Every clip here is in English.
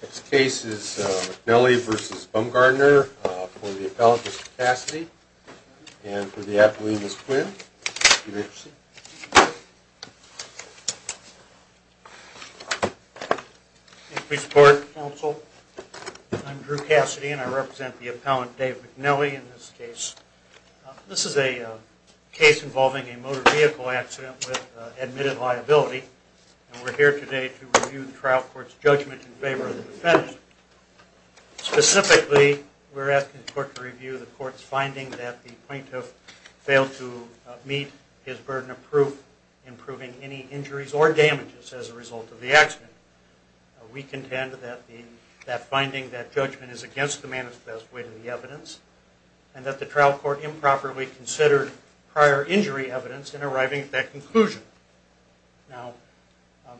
This case is McNally v. Bumgarner for the appellant Mr. Cassidy and for the appellant Ms. Quinn. Thank you for your support counsel. I'm Drew Cassidy and I represent the appellant Dave McNally in this case. This is a case involving a motor vehicle accident with admitted liability and we're here today to review the trial court's judgment in favor of the defense. Specifically we're asking the court to review the court's finding that the plaintiff failed to meet his burden of proof in proving any injuries or damages as a result of the accident. We contend that the that finding that judgment is against the manifest way to the evidence and that the trial court improperly considered prior injury evidence in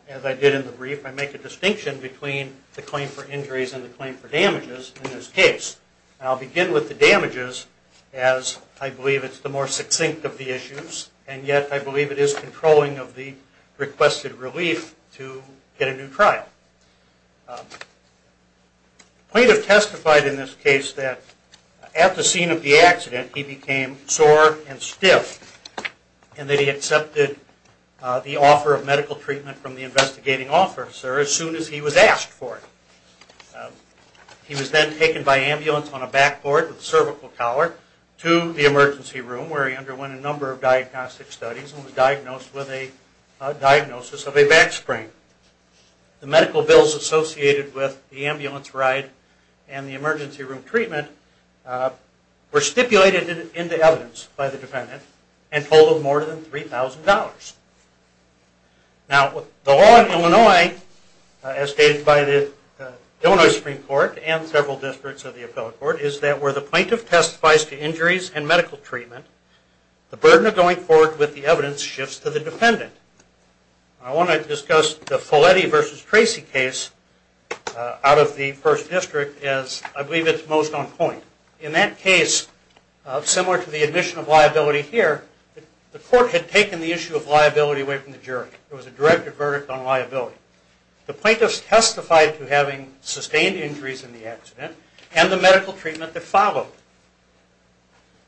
As I did in the brief I make a distinction between the claim for injuries and the claim for damages in this case. I'll begin with the damages as I believe it's the more succinct of the issues and yet I believe it is controlling of the requested relief to get a new trial. The plaintiff testified in this case that at the scene of the accident he became sore and stiff and that he accepted the offer of medical treatment from the investigating officer as soon as he was asked for it. He was then taken by ambulance on a backboard with cervical collar to the emergency room where he underwent a number of diagnostic studies and was diagnosed with a diagnosis of a back sprain. The medical bills associated with the ambulance ride and the emergency room treatment were stipulated into evidence by the defendant and totaled more than $3,000. Now the law in Illinois as stated by the Illinois Supreme Court and several districts of the appellate court is that where the plaintiff testifies to injuries and medical treatment the burden of going forward with the evidence shifts to the dependent. I want to discuss the Folletti versus Tracy case out of the first district as I believe it is most on point. In that case, similar to the admission of liability here, the court had taken the issue of liability away from the jury. There was a direct verdict on liability. The plaintiff testified to having sustained injuries in the accident and the medical treatment that followed.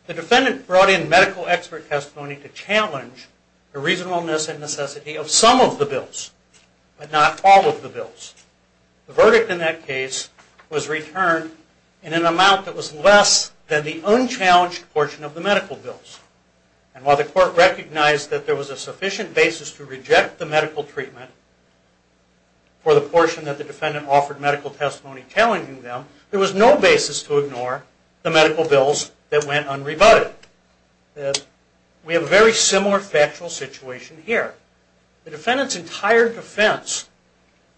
The defendant brought in medical expert testimony to challenge the reasonableness and necessity of some of the bills but not all of the bills. The court was returned in an amount that was less than the unchallenged portion of the medical bills. And while the court recognized that there was a sufficient basis to reject the medical treatment for the portion that the defendant offered medical testimony challenging them, there was no basis to ignore the medical bills that went unrebutted. We have a very similar factual situation here. The defendant's entire defense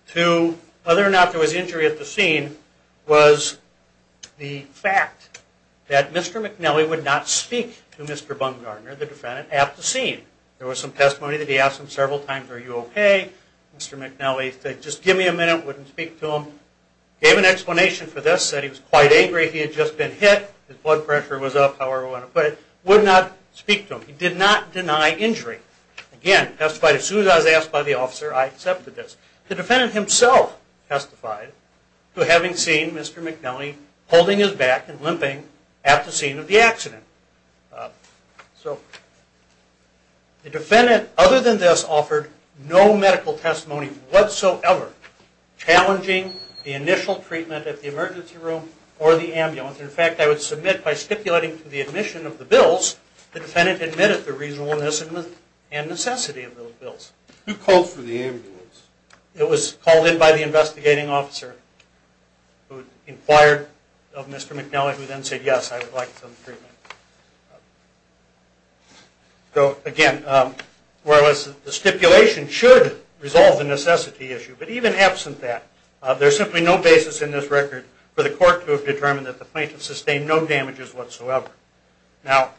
to whether or not there was injury at the scene was the fact that Mr. McNally would not speak to Mr. Bungarner, the defendant, at the scene. There was some testimony that he asked him several times, are you okay? Mr. McNally said just give me a minute, wouldn't speak to him. Gave an explanation for this, said he was quite angry, he had just been hit, his blood pressure was up, however you want to put it. Would not speak to him. He did not deny injury. Again, testified as asked by the officer, I accepted this. The defendant himself testified to having seen Mr. McNally holding his back and limping at the scene of the accident. So the defendant, other than this, offered no medical testimony whatsoever challenging the initial treatment at the emergency room or the ambulance. In fact, I would submit by stipulating to the admission of the bills, the defendant admitted the reasonableness and necessity of those bills. Who called for the ambulance? It was called in by the investigating officer who inquired of Mr. McNally who then said yes, I would like some treatment. So again, whereas the stipulation should resolve the necessity issue, but even absent that, there's simply no basis in this record for the court to have determined that the plaintiff sustained no damages whatsoever. Now,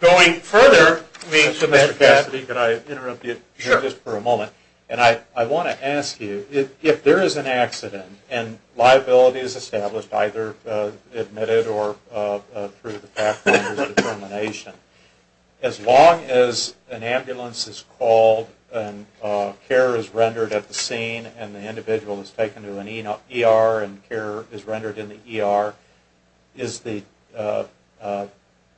going further, Mr. Cassidy, could I interrupt you just for a moment? And I want to ask you, if there is an accident and liability is established either admitted or through the fact that there's determination, as long as an ambulance is called and care is rendered at the scene and the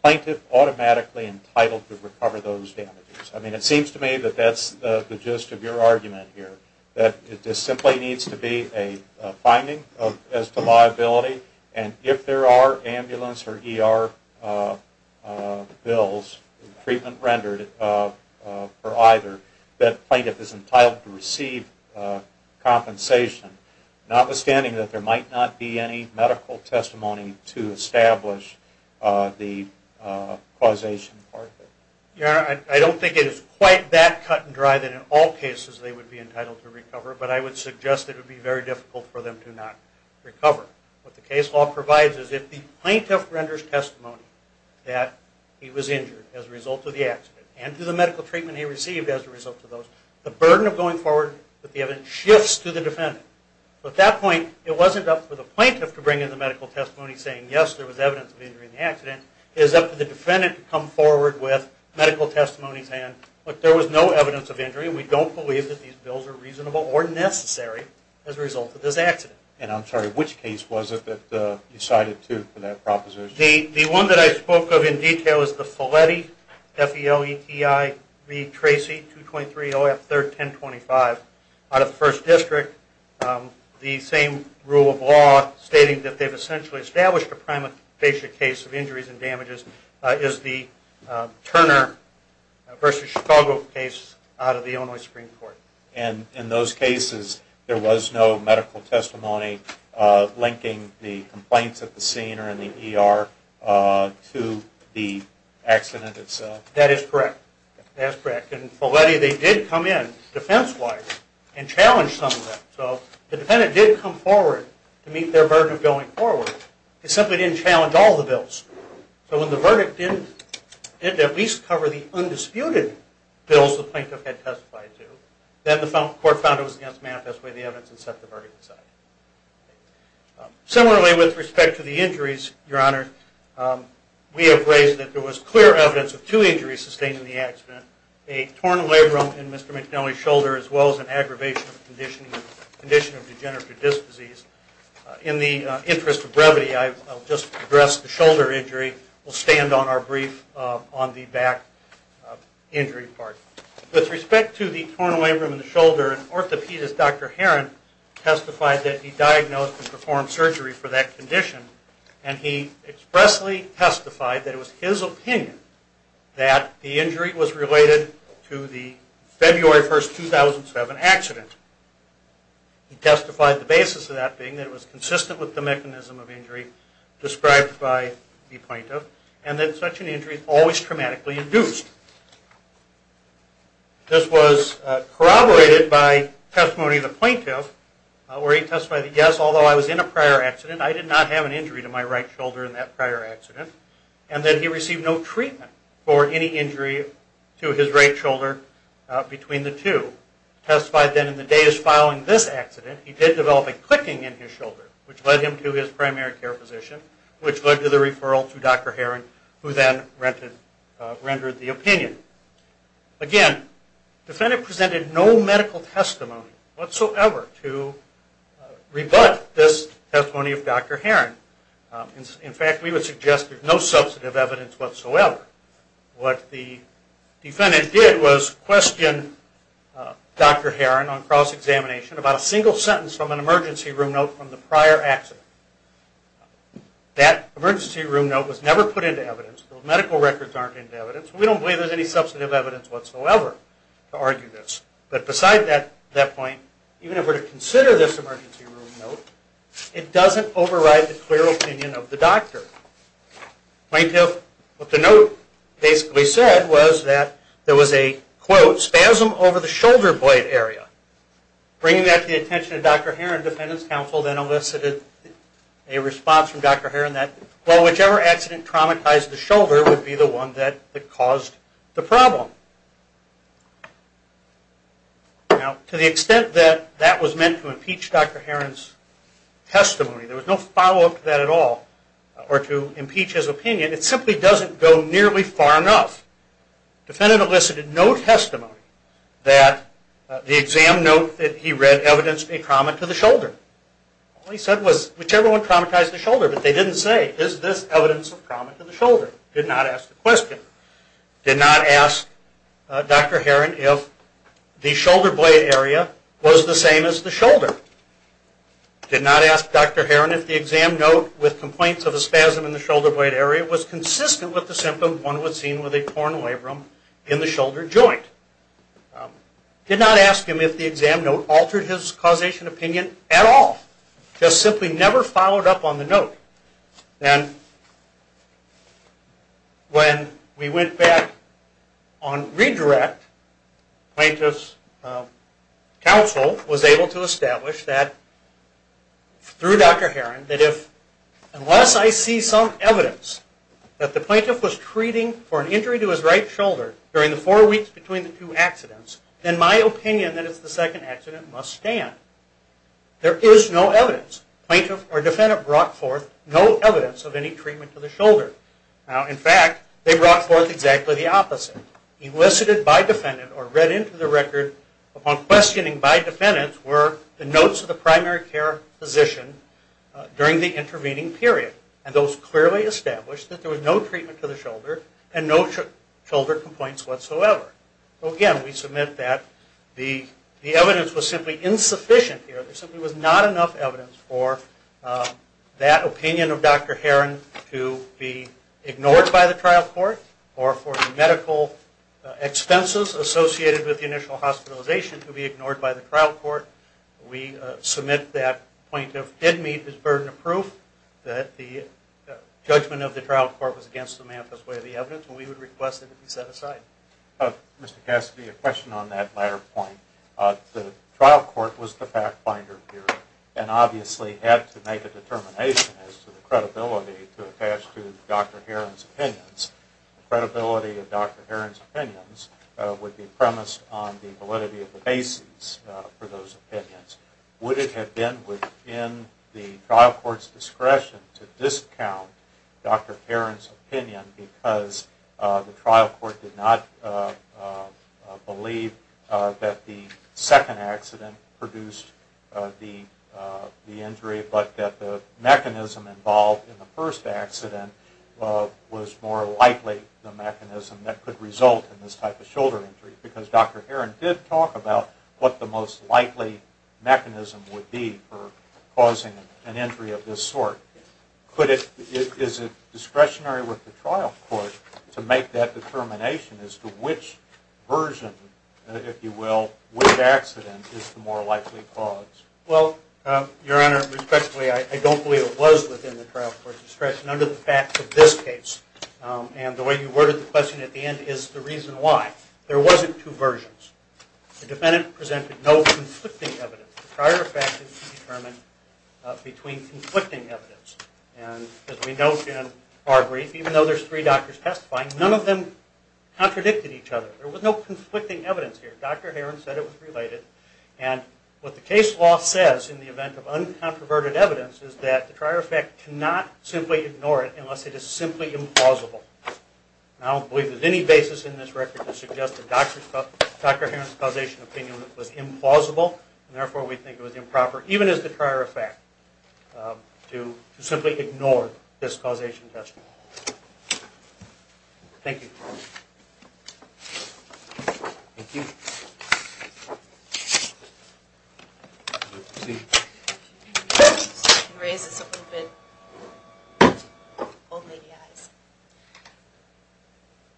plaintiff automatically entitled to recover those damages. I mean, it seems to me that that's the gist of your argument here, that it just simply needs to be a finding as to liability and if there are ambulance or ER bills, treatment rendered for either, that plaintiff is entitled to receive compensation, notwithstanding that there might not be any medical testimony to the causation part of it. Your Honor, I don't think it is quite that cut and dry that in all cases they would be entitled to recover, but I would suggest it would be very difficult for them to not recover. What the case law provides is if the plaintiff renders testimony that he was injured as a result of the accident and to the medical treatment he received as a result of those, the burden of going forward with the evidence shifts to the defendant. At that point, it wasn't up for the plaintiff to bring in the medical testimony saying yes, there was evidence of injury in the accident. It is up to the defendant to come forward with medical testimony saying, look, there was no evidence of injury and we don't believe that these bills are reasonable or necessary as a result of this accident. And I'm sorry, which case was it that you cited too for that proposition? The one that I spoke of in detail is the Feletti, F-E-L-E-T-I-V-T-R-A-C-E 223 OF 31025 out of First District. The same rule of law stating that they've essentially established a prima facie case of injuries and damages is the Turner v. Chicago case out of the Illinois Supreme Court. And in those cases, there was no medical testimony linking the complaints at the scene or in the ER to the accident itself? That is correct. That's correct. In Feletti, they did come in defense-wise and challenge some of that. So the defendant did come forward to meet their burden of going forward. They simply didn't challenge all the bills. So when the verdict didn't at least cover the undisputed bills the plaintiff had testified to, then the court found it was against manifest way of the evidence and set the verdict aside. Similarly, with respect to the injuries, Your Honor, we have raised that there was clear evidence of two injuries sustained in the accident, a torn labrum in Mr. McNally's shoulder as well as an aggravation of condition of degenerative disc disease. In the interest of brevity, I'll just address the shoulder injury. We'll stand on our brief on the back injury part. With respect to the torn labrum in the shoulder, an orthopedist, Dr. Heron, testified that he diagnosed and performed surgery for that condition. And he expressly testified that it was his opinion that the injury was related to the basis of that being that it was consistent with the mechanism of injury described by the plaintiff. And that such an injury is always traumatically induced. This was corroborated by testimony of the plaintiff where he testified that yes, although I was in a prior accident, I did not have an injury to my right shoulder in that prior accident. And that he received no treatment for any injury to his right shoulder between the two. Testified then in the days following this by clicking in his shoulder, which led him to his primary care physician, which led to the referral to Dr. Heron, who then rendered the opinion. Again, the defendant presented no medical testimony whatsoever to rebut this testimony of Dr. Heron. In fact, we would suggest there's no substantive evidence whatsoever. What the defendant did was question Dr. Heron on cross-examination about a single sentence from an emergency room note from the prior accident. That emergency room note was never put into evidence. Those medical records aren't into evidence. We don't believe there's any substantive evidence whatsoever to argue this. But beside that point, even if we're to consider this emergency room note, it doesn't override the clear opinion of the doctor. Plaintiff, what the note basically said was that there was a, quote, spasm over the shoulder blade area. Bringing that to the attention of Dr. Heron, the defendant's counsel then elicited a response from Dr. Heron that, well, whichever accident traumatized the shoulder would be the one that caused the problem. Now, to the extent that that was meant to impeach Dr. Heron's testimony, there was no follow-up to that at all, or to impeach his opinion, it simply doesn't go nearly far enough. Defendant elicited no testimony that the exam note that he read evidenced a trauma to the shoulder. All he said was whichever one traumatized the shoulder, but they didn't say, is this evidence of trauma to the shoulder? Did not ask the question. Did not ask Dr. Heron if the shoulder blade area was the same as the shoulder. Did not ask Dr. Heron if the exam note with complaints of a spasm in the shoulder blade area was consistent with the symptom one would see with a torn labrum in the shoulder joint. Did not ask him if the exam note altered his causation opinion at all. Just simply never followed up on the note. And when we went back on redirect, plaintiff's counsel was able to that the plaintiff was treating for an injury to his right shoulder during the four weeks between the two accidents, then my opinion that it's the second accident must stand. There is no evidence. Plaintiff or defendant brought forth no evidence of any treatment to the shoulder. Now, in fact, they brought forth exactly the opposite. Elicited by defendant or read into the record upon questioning by defendant were the notes of the primary care physician during the intervening period. And those clearly established that there was no treatment to the shoulder and no shoulder complaints whatsoever. Again, we submit that the evidence was simply insufficient here. There simply was not enough evidence for that opinion of Dr. Heron to be ignored by the trial court or for the medical expenses associated with the initial hospitalization to be ignored by the trial court. We submit that plaintiff did meet his burden of proof, that the judgment of the trial court was against the manifest way of the evidence, and we would request it to be set aside. Mr. Cassidy, a question on that latter point. The trial court was the fact finder here and obviously had to make a determination as to the credibility to attach to Dr. Heron's opinions. The credibility of Dr. Heron's opinions would be premised on the validity of the basis for those opinions. Would it be within the trial court's discretion to discount Dr. Heron's opinion because the trial court did not believe that the second accident produced the injury, but that the mechanism involved in the first accident was more likely the mechanism that could result in this type of shoulder injury? Because Dr. Heron did talk about what the most likely mechanism would be for causing an injury of this sort. Is it discretionary with the trial court to make that determination as to which version, if you will, which accident is the more likely cause? Well, Your Honor, respectfully, I don't believe it was within the trial court's discretion under the facts of this case. And the way you worded the question at the end is the reason why. There wasn't two versions. The prior fact is to determine between conflicting evidence. And as we note in our brief, even though there's three doctors testifying, none of them contradicted each other. There was no conflicting evidence here. Dr. Heron said it was related. And what the case law says in the event of uncontroverted evidence is that the prior fact cannot simply ignore it unless it is simply implausible. And I don't believe there's any basis in this record to suggest that Dr. Heron's causation opinion was implausible. And therefore, we think it was improper, even as the prior fact, to simply ignore this causation testimony. Thank you.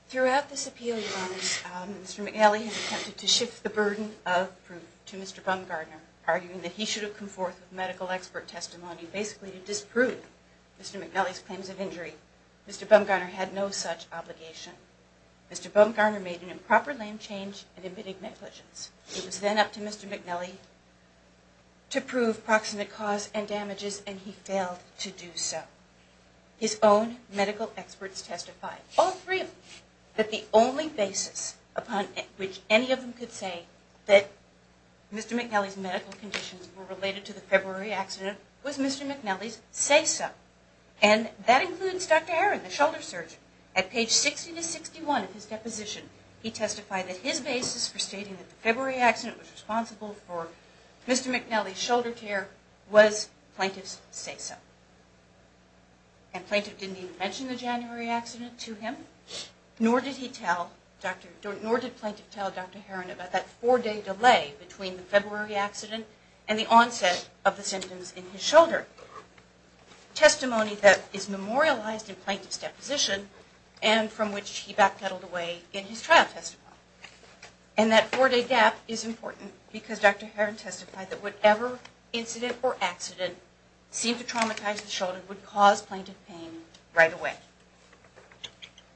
Throughout this appeal, Your Honor, Mr. McAlee has attempted to shift the argument that he should have come forth with medical expert testimony, basically to disprove Mr. McAlee's claims of injury. Mr. Bumgarner had no such obligation. Mr. Bumgarner made an improper, lame change in admitting negligence. It was then up to Mr. McAlee to prove proximate cause and damages, and he failed to do so. His own medical experts testified, all three of them, that the only basis upon which any of them could say that Mr. McAlee's medical conditions were related to the February accident was Mr. McAlee's say-so. And that includes Dr. Heron, the shoulder surgeon. At page 60 to 61 of his deposition, he testified that his basis for stating that the February accident was responsible for Mr. McAlee's shoulder tear was plaintiff's say-so. And plaintiff didn't even mention the January accident to him, nor did he tell Dr. Heron about that four-day delay between the accident and the onset of the symptoms in his shoulder. Testimony that is memorialized in plaintiff's deposition, and from which he backpedaled away in his trial testimony. And that four-day gap is important because Dr. Heron testified that whatever incident or accident seemed to traumatize the shoulder would cause plaintiff pain right away.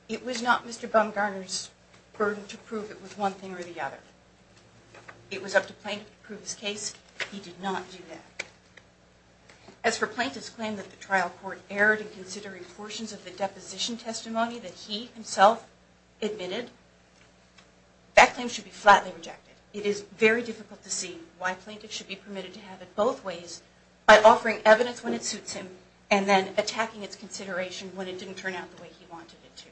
It was not Mr. Bumgarner's burden to prove it was one thing or the other. It was up to plaintiff to he did not do that. As for plaintiff's claim that the trial court erred in considering portions of the deposition testimony that he himself admitted, that claim should be flatly rejected. It is very difficult to see why plaintiff should be permitted to have it both ways by offering evidence when it suits him and then attacking its consideration when it didn't turn out the way he wanted it to.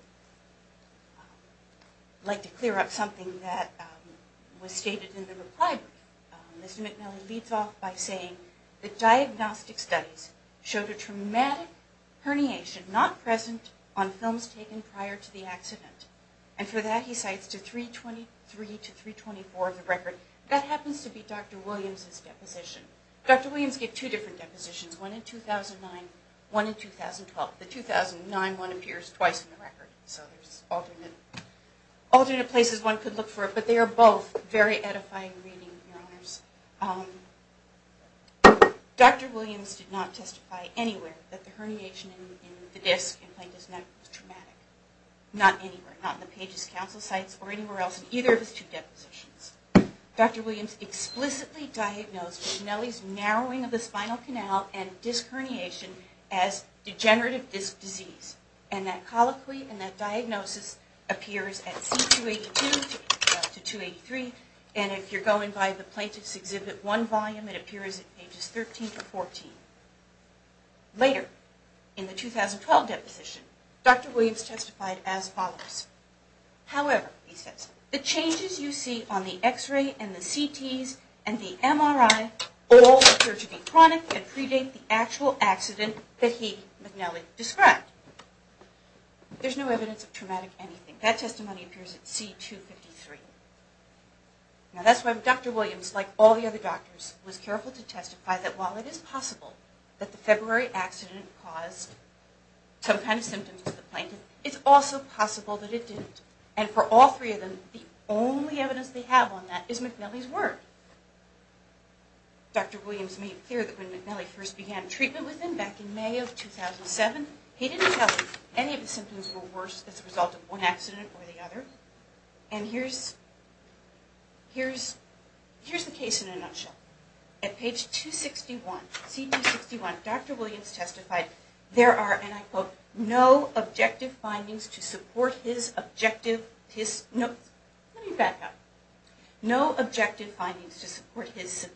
I'd like to clear up something that was stated in the reply brief. Mr. McNally leads off by saying that diagnostic studies showed a traumatic herniation not present on films taken prior to the accident. And for that he cites to 323 to 324 of the record. That happens to be Dr. Williams' deposition. Dr. Williams gave two different depositions, one in 2009, one in 2012. The 2009 one appears twice in the record. So there's alternate places one could look for it, but they are both very edifying reading, Your Honors. Dr. Williams did not testify anywhere that the herniation in the disc in Plaintiff's neck was traumatic. Not anywhere, not in the Page's counsel sites or anywhere else in either of his two depositions. Dr. Williams explicitly diagnosed McNally's narrowing of the spinal canal and disc herniation as degenerative disc disease. And that diagnosis appears at C282 to 283. And if you're going by the Plaintiff's Exhibit 1 volume, it appears at pages 13 to 14. Later, in the 2012 deposition, Dr. Williams testified as follows. However, he says, the changes you see on the x-ray and the CTs and the MRI all appear to be chronic and predate the actual accident that he, McNally, described. There's no evidence of traumatic anything. That testimony appears at C253. Now that's why Dr. Williams, like all the other doctors, was careful to testify that while it is possible that the February accident caused some kind of symptoms to the plaintiff, it's also possible that it didn't. And for all three of them, the only evidence they have on that is McNally's word. Dr. Williams made clear that when McNally first began treatment with him back in May of 2007, he didn't tell him any of the symptoms were worse as a result of one accident or the other. And here's the case in a nutshell. At page 261, C261, Dr. Williams testified, there are, and I quote, no objective findings to support his objective, his, no, let me back up. No objective findings to support his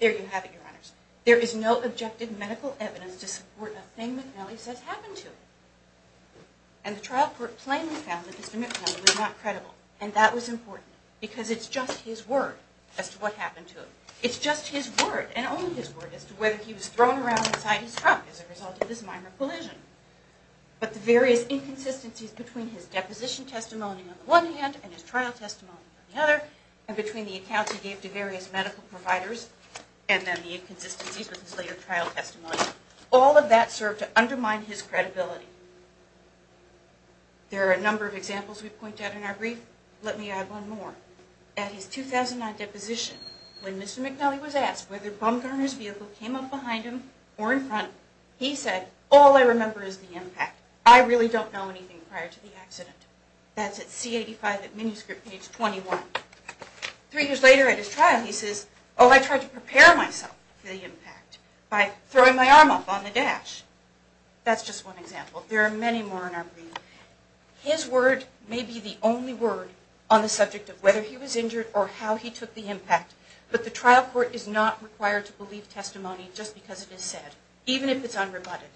There you have it, your honors. There is no objective medical evidence to support a thing McNally says happened to him. And the trial court plainly found that Mr. McNally was not credible. And that was important because it's just his word as to what happened to him. It's just his word and only his word as to whether he was thrown around inside his truck as a result of this minor collision. But the various inconsistencies between his deposition testimony on the one hand and his trial testimony on the other, and between the accounts he gave to various medical providers, and then the inconsistencies with his later trial testimony, all of that served to undermine his credibility. There are a number of examples we point out in our brief. Let me add one more. At his 2009 deposition, when Mr. McNally was asked whether Bumgarner's vehicle came up behind him or in front, he said, all I remember is the impact. I really don't know anything prior to the accident. That's at C85 at manuscript page 21. Three years later at his trial, he says, oh, I tried to prepare myself for the impact by throwing my arm up on the dash. That's just one example. There are many more in our brief. His word may be the only word on the subject of whether he was injured or how he took the impact, but the trial court is not required to believe testimony just because it is said, even if it's unrebutted.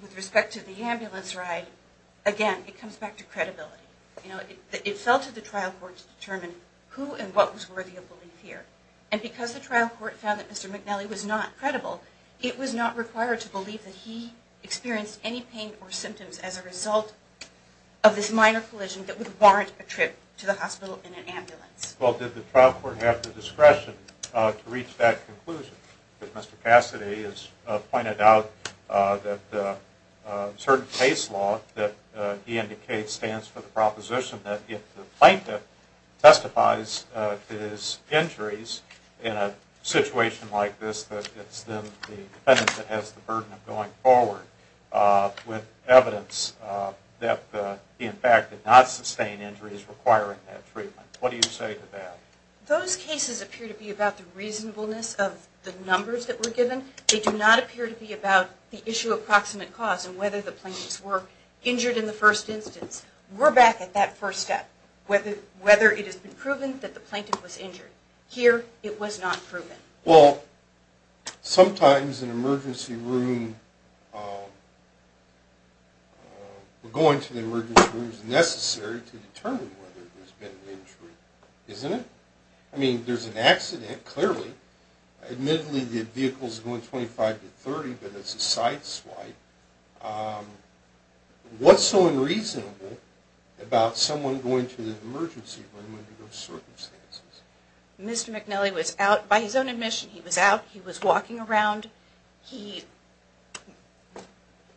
With respect to the ambulance ride, again, it comes back to credibility. You know, it fell to the trial court to determine who and what was worthy of belief here. And because the trial court found that Mr. McNally was not credible, it was not required to believe that he experienced any pain or symptoms as a result of this minor collision that would warrant a trip to the hospital in an ambulance. Well, did the trial court have the discretion to reach that conclusion, that Mr. Cassidy has pointed out that the certain case law that he indicates stands for the proposition that if the plaintiff testifies to his injuries in a situation like this, that it's then the defendant that has the burden of going forward with evidence that he in fact did not sustain injuries requiring that treatment. What do you say to that? Those cases appear to be about the reasonableness of the numbers that were given. They do not appear to be about the issue of proximate cause and whether the plaintiffs were injured in the first instance. We're back at that first step, whether it has been proven that the plaintiff was injured. Here, it was not proven. Well, sometimes an emergency room, going to the emergency room is necessary to determine whether there's been an injury. Isn't it? I mean, there's an accident, clearly. Admittedly, the vehicle's going 25 to 30, but it's a side swipe. What's so unreasonable about someone going to the emergency room under those conditions? He was out, he was walking around,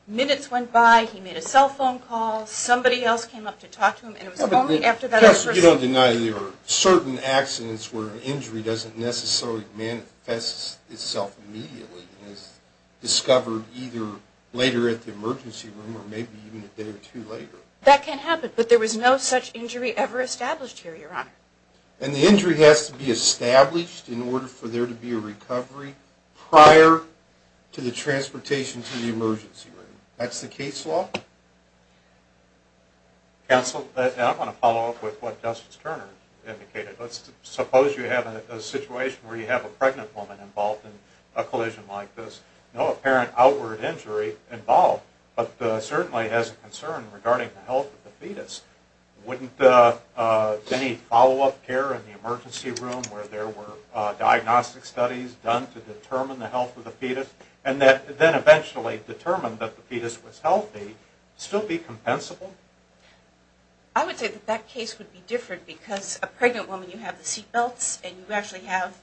minutes went by, he made a cell phone call, somebody else came up to talk to him, and it was only after that... You don't deny there are certain accidents where an injury doesn't necessarily manifest itself immediately. It's discovered either later at the emergency room or maybe even a day or two later. That can happen, but there was no such injury ever established here, Your recovery prior to the transportation to the emergency room. That's the case law. Counsel, I want to follow up with what Justice Turner indicated. Let's suppose you have a situation where you have a pregnant woman involved in a collision like this, no apparent outward injury involved, but certainly has a concern regarding the health of the fetus. Wouldn't any follow-up care in the studies done to determine the health of the fetus, and then eventually determine that the fetus was healthy, still be compensable? I would say that that case would be different because a pregnant woman, you have the seatbelts, and you actually have,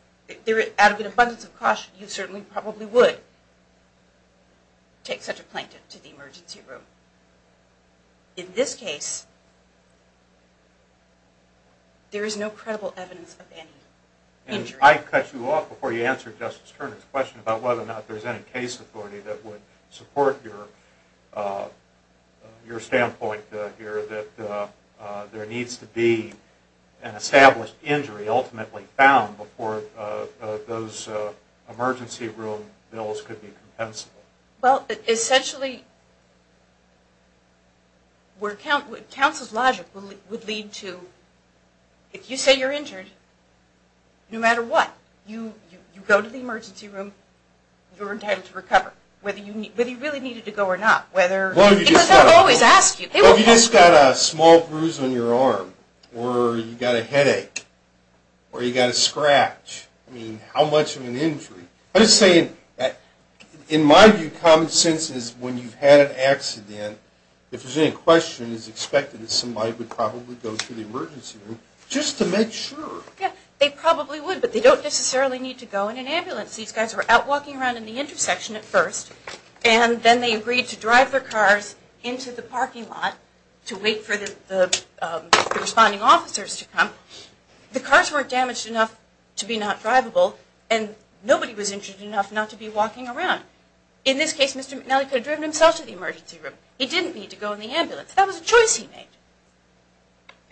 out of an abundance of caution, you certainly probably would take such a plaintiff to the emergency room. In this case, there is no credible evidence of any injury. I'd cut you off before you answer Justice Turner's question about whether or not there's any case authority that would support your standpoint here, that there needs to be an established injury ultimately found before those emergency room bills could be compensable. Well, essentially, where counsel's logic would lead to, if you say you're pregnant, no matter what, you go to the emergency room, you're entitled to recover, whether you really needed to go or not, because they'll always ask you. Well, if you just got a small bruise on your arm, or you got a headache, or you got a scratch, I mean, how much of an injury? I'm just saying, in my view, common sense is when you've had an accident, if there's any question, it's expected that somebody would probably go to the emergency room just to make sure. Yeah, they probably would, but they don't necessarily need to go in an ambulance. These guys were out walking around in the intersection at first, and then they agreed to drive their cars into the parking lot to wait for the responding officers to come. The cars weren't damaged enough to be not drivable, and nobody was injured enough not to be walking around. In this case, Mr. McNally could have driven himself to the emergency room. He didn't need to go in the ambulance. That was a choice he made.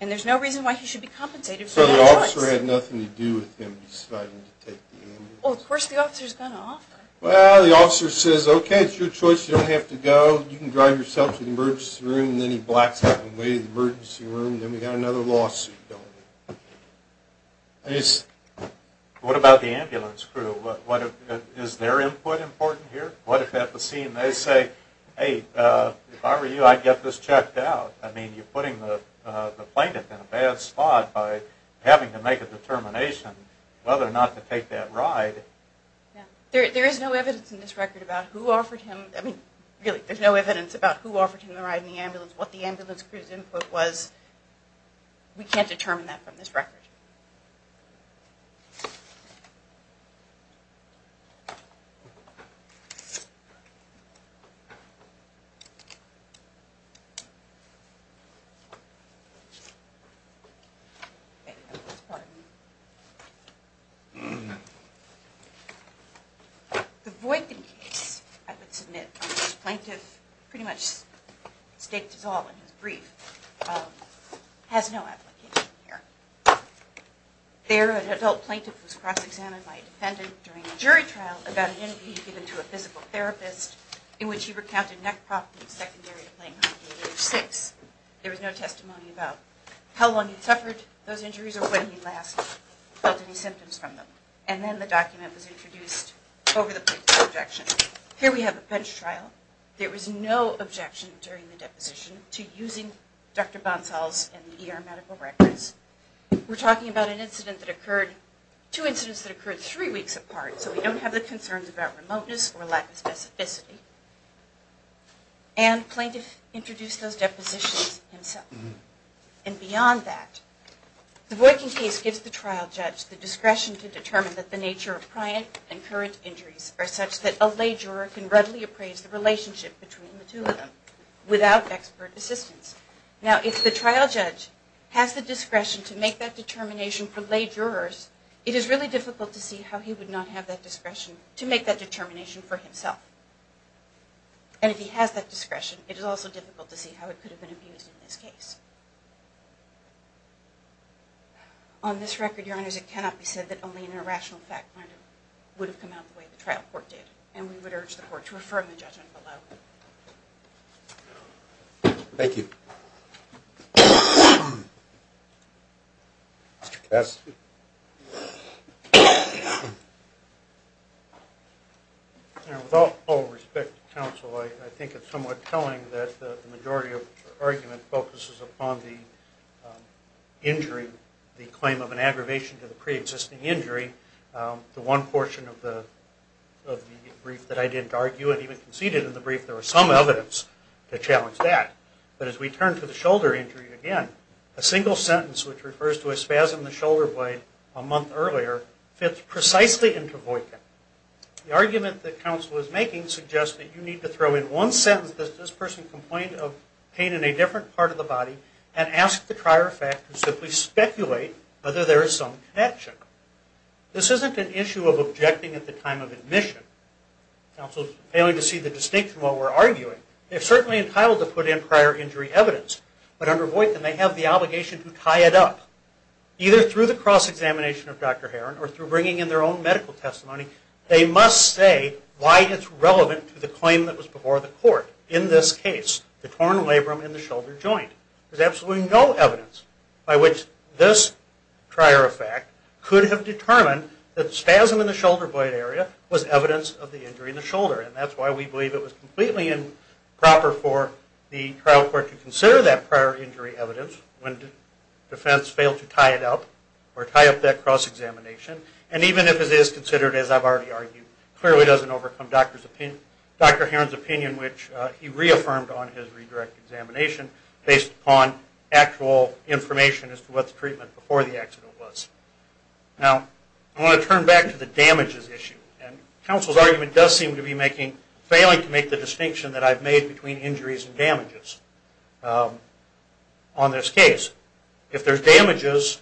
And there's no reason why he should be compensated for the choice. So the officer had nothing to do with him deciding to take the ambulance? Well, of course the officer's going to offer. Well, the officer says, okay, it's your choice. You don't have to go. You can drive yourself to the emergency room, and then he blocks out the way to the emergency room. Then we got another lawsuit going. What about the ambulance crew? Is their input important here? What if at the scene they say, hey, if I were you, I'd get this checked out. I mean, you're putting the plaintiff in a bad spot by having to make a determination whether or not to take that ride. There is no evidence in this record about who offered him, I mean, really, there's no evidence about who offered him the ride in the ambulance, what the ambulance crew's input was. We can't determine that from this record. The Voigtlin case, I would submit, on which the plaintiff pretty much staked it all in his brief, has no application here. There, an adult plaintiff was cross-examined by a defendant during a jury trial about an interview he'd given to a physical therapist in which he There was no testimony about how long he'd suffered those injuries or when he'd last felt any symptoms from them. And then the document was introduced over the plaintiff's objection. Here we have a bench trial. There was no objection during the deposition to using Dr. Bonsall's and the ER medical records. We're talking about an incident that occurred, two incidents that occurred three weeks apart, so we don't have the concerns about remoteness or lack of specificity. And plaintiff introduced those depositions himself. And beyond that, the Voigtlin case gives the trial judge the discretion to determine that the nature of prior and current injuries are such that a lay juror can readily appraise the relationship between the two of them without expert assistance. Now, if the trial judge has the discretion to make that determination for lay jurors, it is really difficult to see how he would not have that discretion to make that determination for himself. And if he has that discretion, it is also difficult to see how it could have been abused in this case. On this record, Your Honors, it cannot be said that only an irrational fact finder would have come out the way the trial court did. And we would urge the court to refer the judgment below. Thank you. Mr. Kess. With all due respect to counsel, I think it is somewhat telling that the majority of argument focuses upon the injury, the claim of an aggravation to the preexisting injury. The one portion of the brief that I didn't argue and even conceded in the brief, there was some evidence to challenge that. But as we turn to the shoulder injury again, a single sentence which refers to a spasm in the shoulder blade a month earlier fits precisely into Voightkin. The argument that counsel is making suggests that you need to throw in one sentence that this person complained of pain in a different part of the body and ask the prior fact and simply speculate whether there is some connection. This isn't an issue of objecting at the time of admission. Counsel is failing to see the distinction in what we're arguing. They're certainly entitled to put in prior injury evidence. But under Voightkin, they have the obligation to tie it up. Either through the cross-examination of Dr. Heron or through bringing in their own medical testimony, they must say why it's relevant to the claim that was before the court. In this case, the torn labrum in the shoulder joint. There's absolutely no evidence by which this prior effect could have determined that the spasm in the shoulder blade area was evidence of the injury in the shoulder. And that's why we believe it was completely improper for the trial court to consider that prior injury evidence when defense failed to tie it up or tie up that cross-examination. And even if it is considered, as I've already argued, clearly doesn't overcome Dr. Heron's opinion, which he reaffirmed on his redirect examination based upon actual information as to what the treatment before the accident was. Now, I want to turn back to the damages issue. And counsel's argument does seem to be failing to make the distinction that I've made between injuries and damages on this case. If there's damages,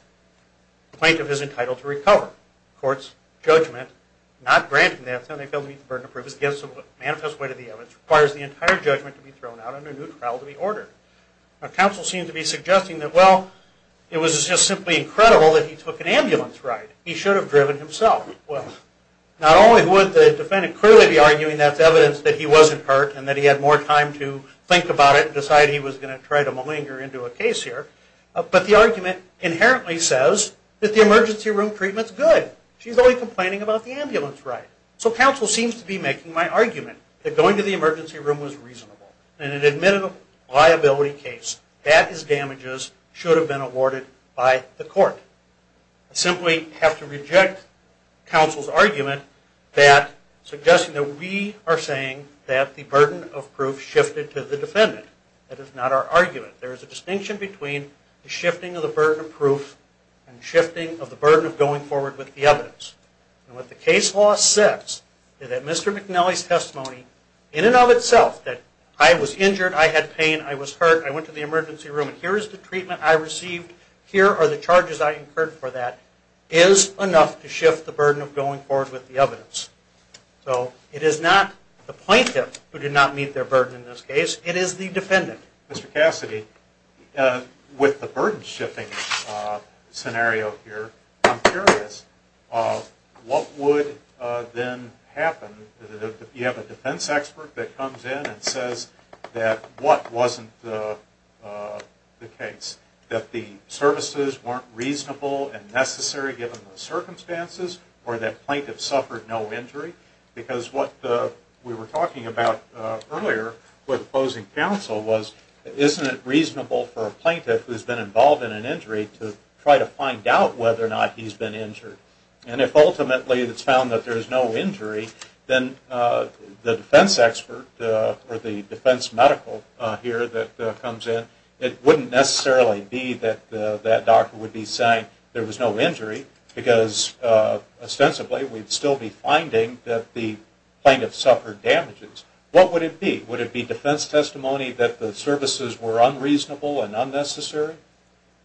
the plaintiff is entitled to recover. The court's judgment, not granting the defendant the ability to meet the burden of proof, is against the manifest weight of the evidence, requires the entire judgment to be thrown out and a new trial to be ordered. Now, counsel seems to be suggesting that, well, it was just simply incredible that he took an ambulance ride. He should have driven himself. Well, not only would the defendant clearly be arguing that's evidence that he wasn't hurt and that he had more time to think about it and decide he was going to try to malinger into a case here, but the argument inherently says that the emergency room treatment's good. She's only complaining about the ambulance ride. So counsel seems to be making my argument that going to the emergency room was reasonable and an admittable liability case. That is damages should have been awarded by the court. I simply have to reject counsel's argument that suggesting that we are saying that the burden of proof shifted to the defendant. That is not our argument. There is a distinction between the shifting of the burden of proof and shifting of the burden of going forward with the evidence. And what the case law says is that Mr. McNally's testimony, in and of itself, that I was injured, I had pain, I was hurt, I went to the emergency room and here is the treatment I received, here are the charges I incurred So it is not the plaintiff who did not meet their burden in this case. It is the defendant. Mr. Cassidy, with the burden shifting scenario here, I'm curious, what would then happen if you have a defense expert that comes in and says that what wasn't the case, that the services weren't reasonable and necessary given the circumstances or that the plaintiff suffered no injury? Because what we were talking about earlier with opposing counsel was, isn't it reasonable for a plaintiff who has been involved in an injury to try to find out whether or not he has been injured? And if ultimately it is found that there is no injury, then the defense expert or the defense medical here that comes in, it wouldn't necessarily be that that doctor would be saying there was no injury because ostensibly we'd still be finding that the plaintiff suffered damages. What would it be? Would it be defense testimony that the services were unreasonable and unnecessary?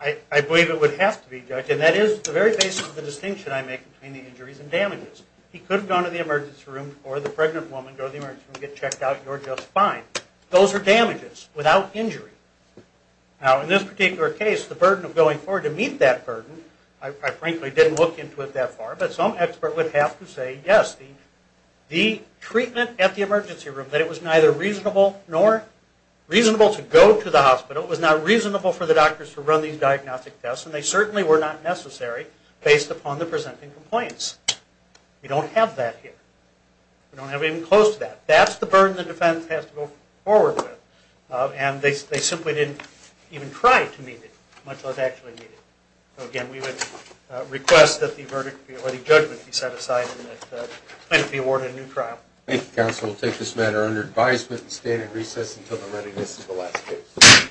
I believe it would have to be, Judge, and that is the very basis of the distinction I make between the injuries and damages. He could have gone to the emergency room or the pregnant woman go to the emergency room and get checked out and you're just fine. Those are damages without injury. Now, in this particular case, the burden of going forward to meet that burden, I frankly didn't look into it that far, but some expert would have to say, yes, the treatment at the emergency room, that it was neither reasonable to go to the hospital, it was not reasonable for the doctors to run these diagnostic tests, and they certainly were not necessary based upon the presenting complaints. We don't have that here. We don't have anything close to that. That's the burden the defense has to go forward with. And they simply didn't even try to meet it, much less actually meet it. So, again, we would request that the verdict or the judgment be set aside and that the plaintiff be awarded a new trial. Thank you, counsel. We'll take this matter under advisement and stand in recess until the readiness of the last case.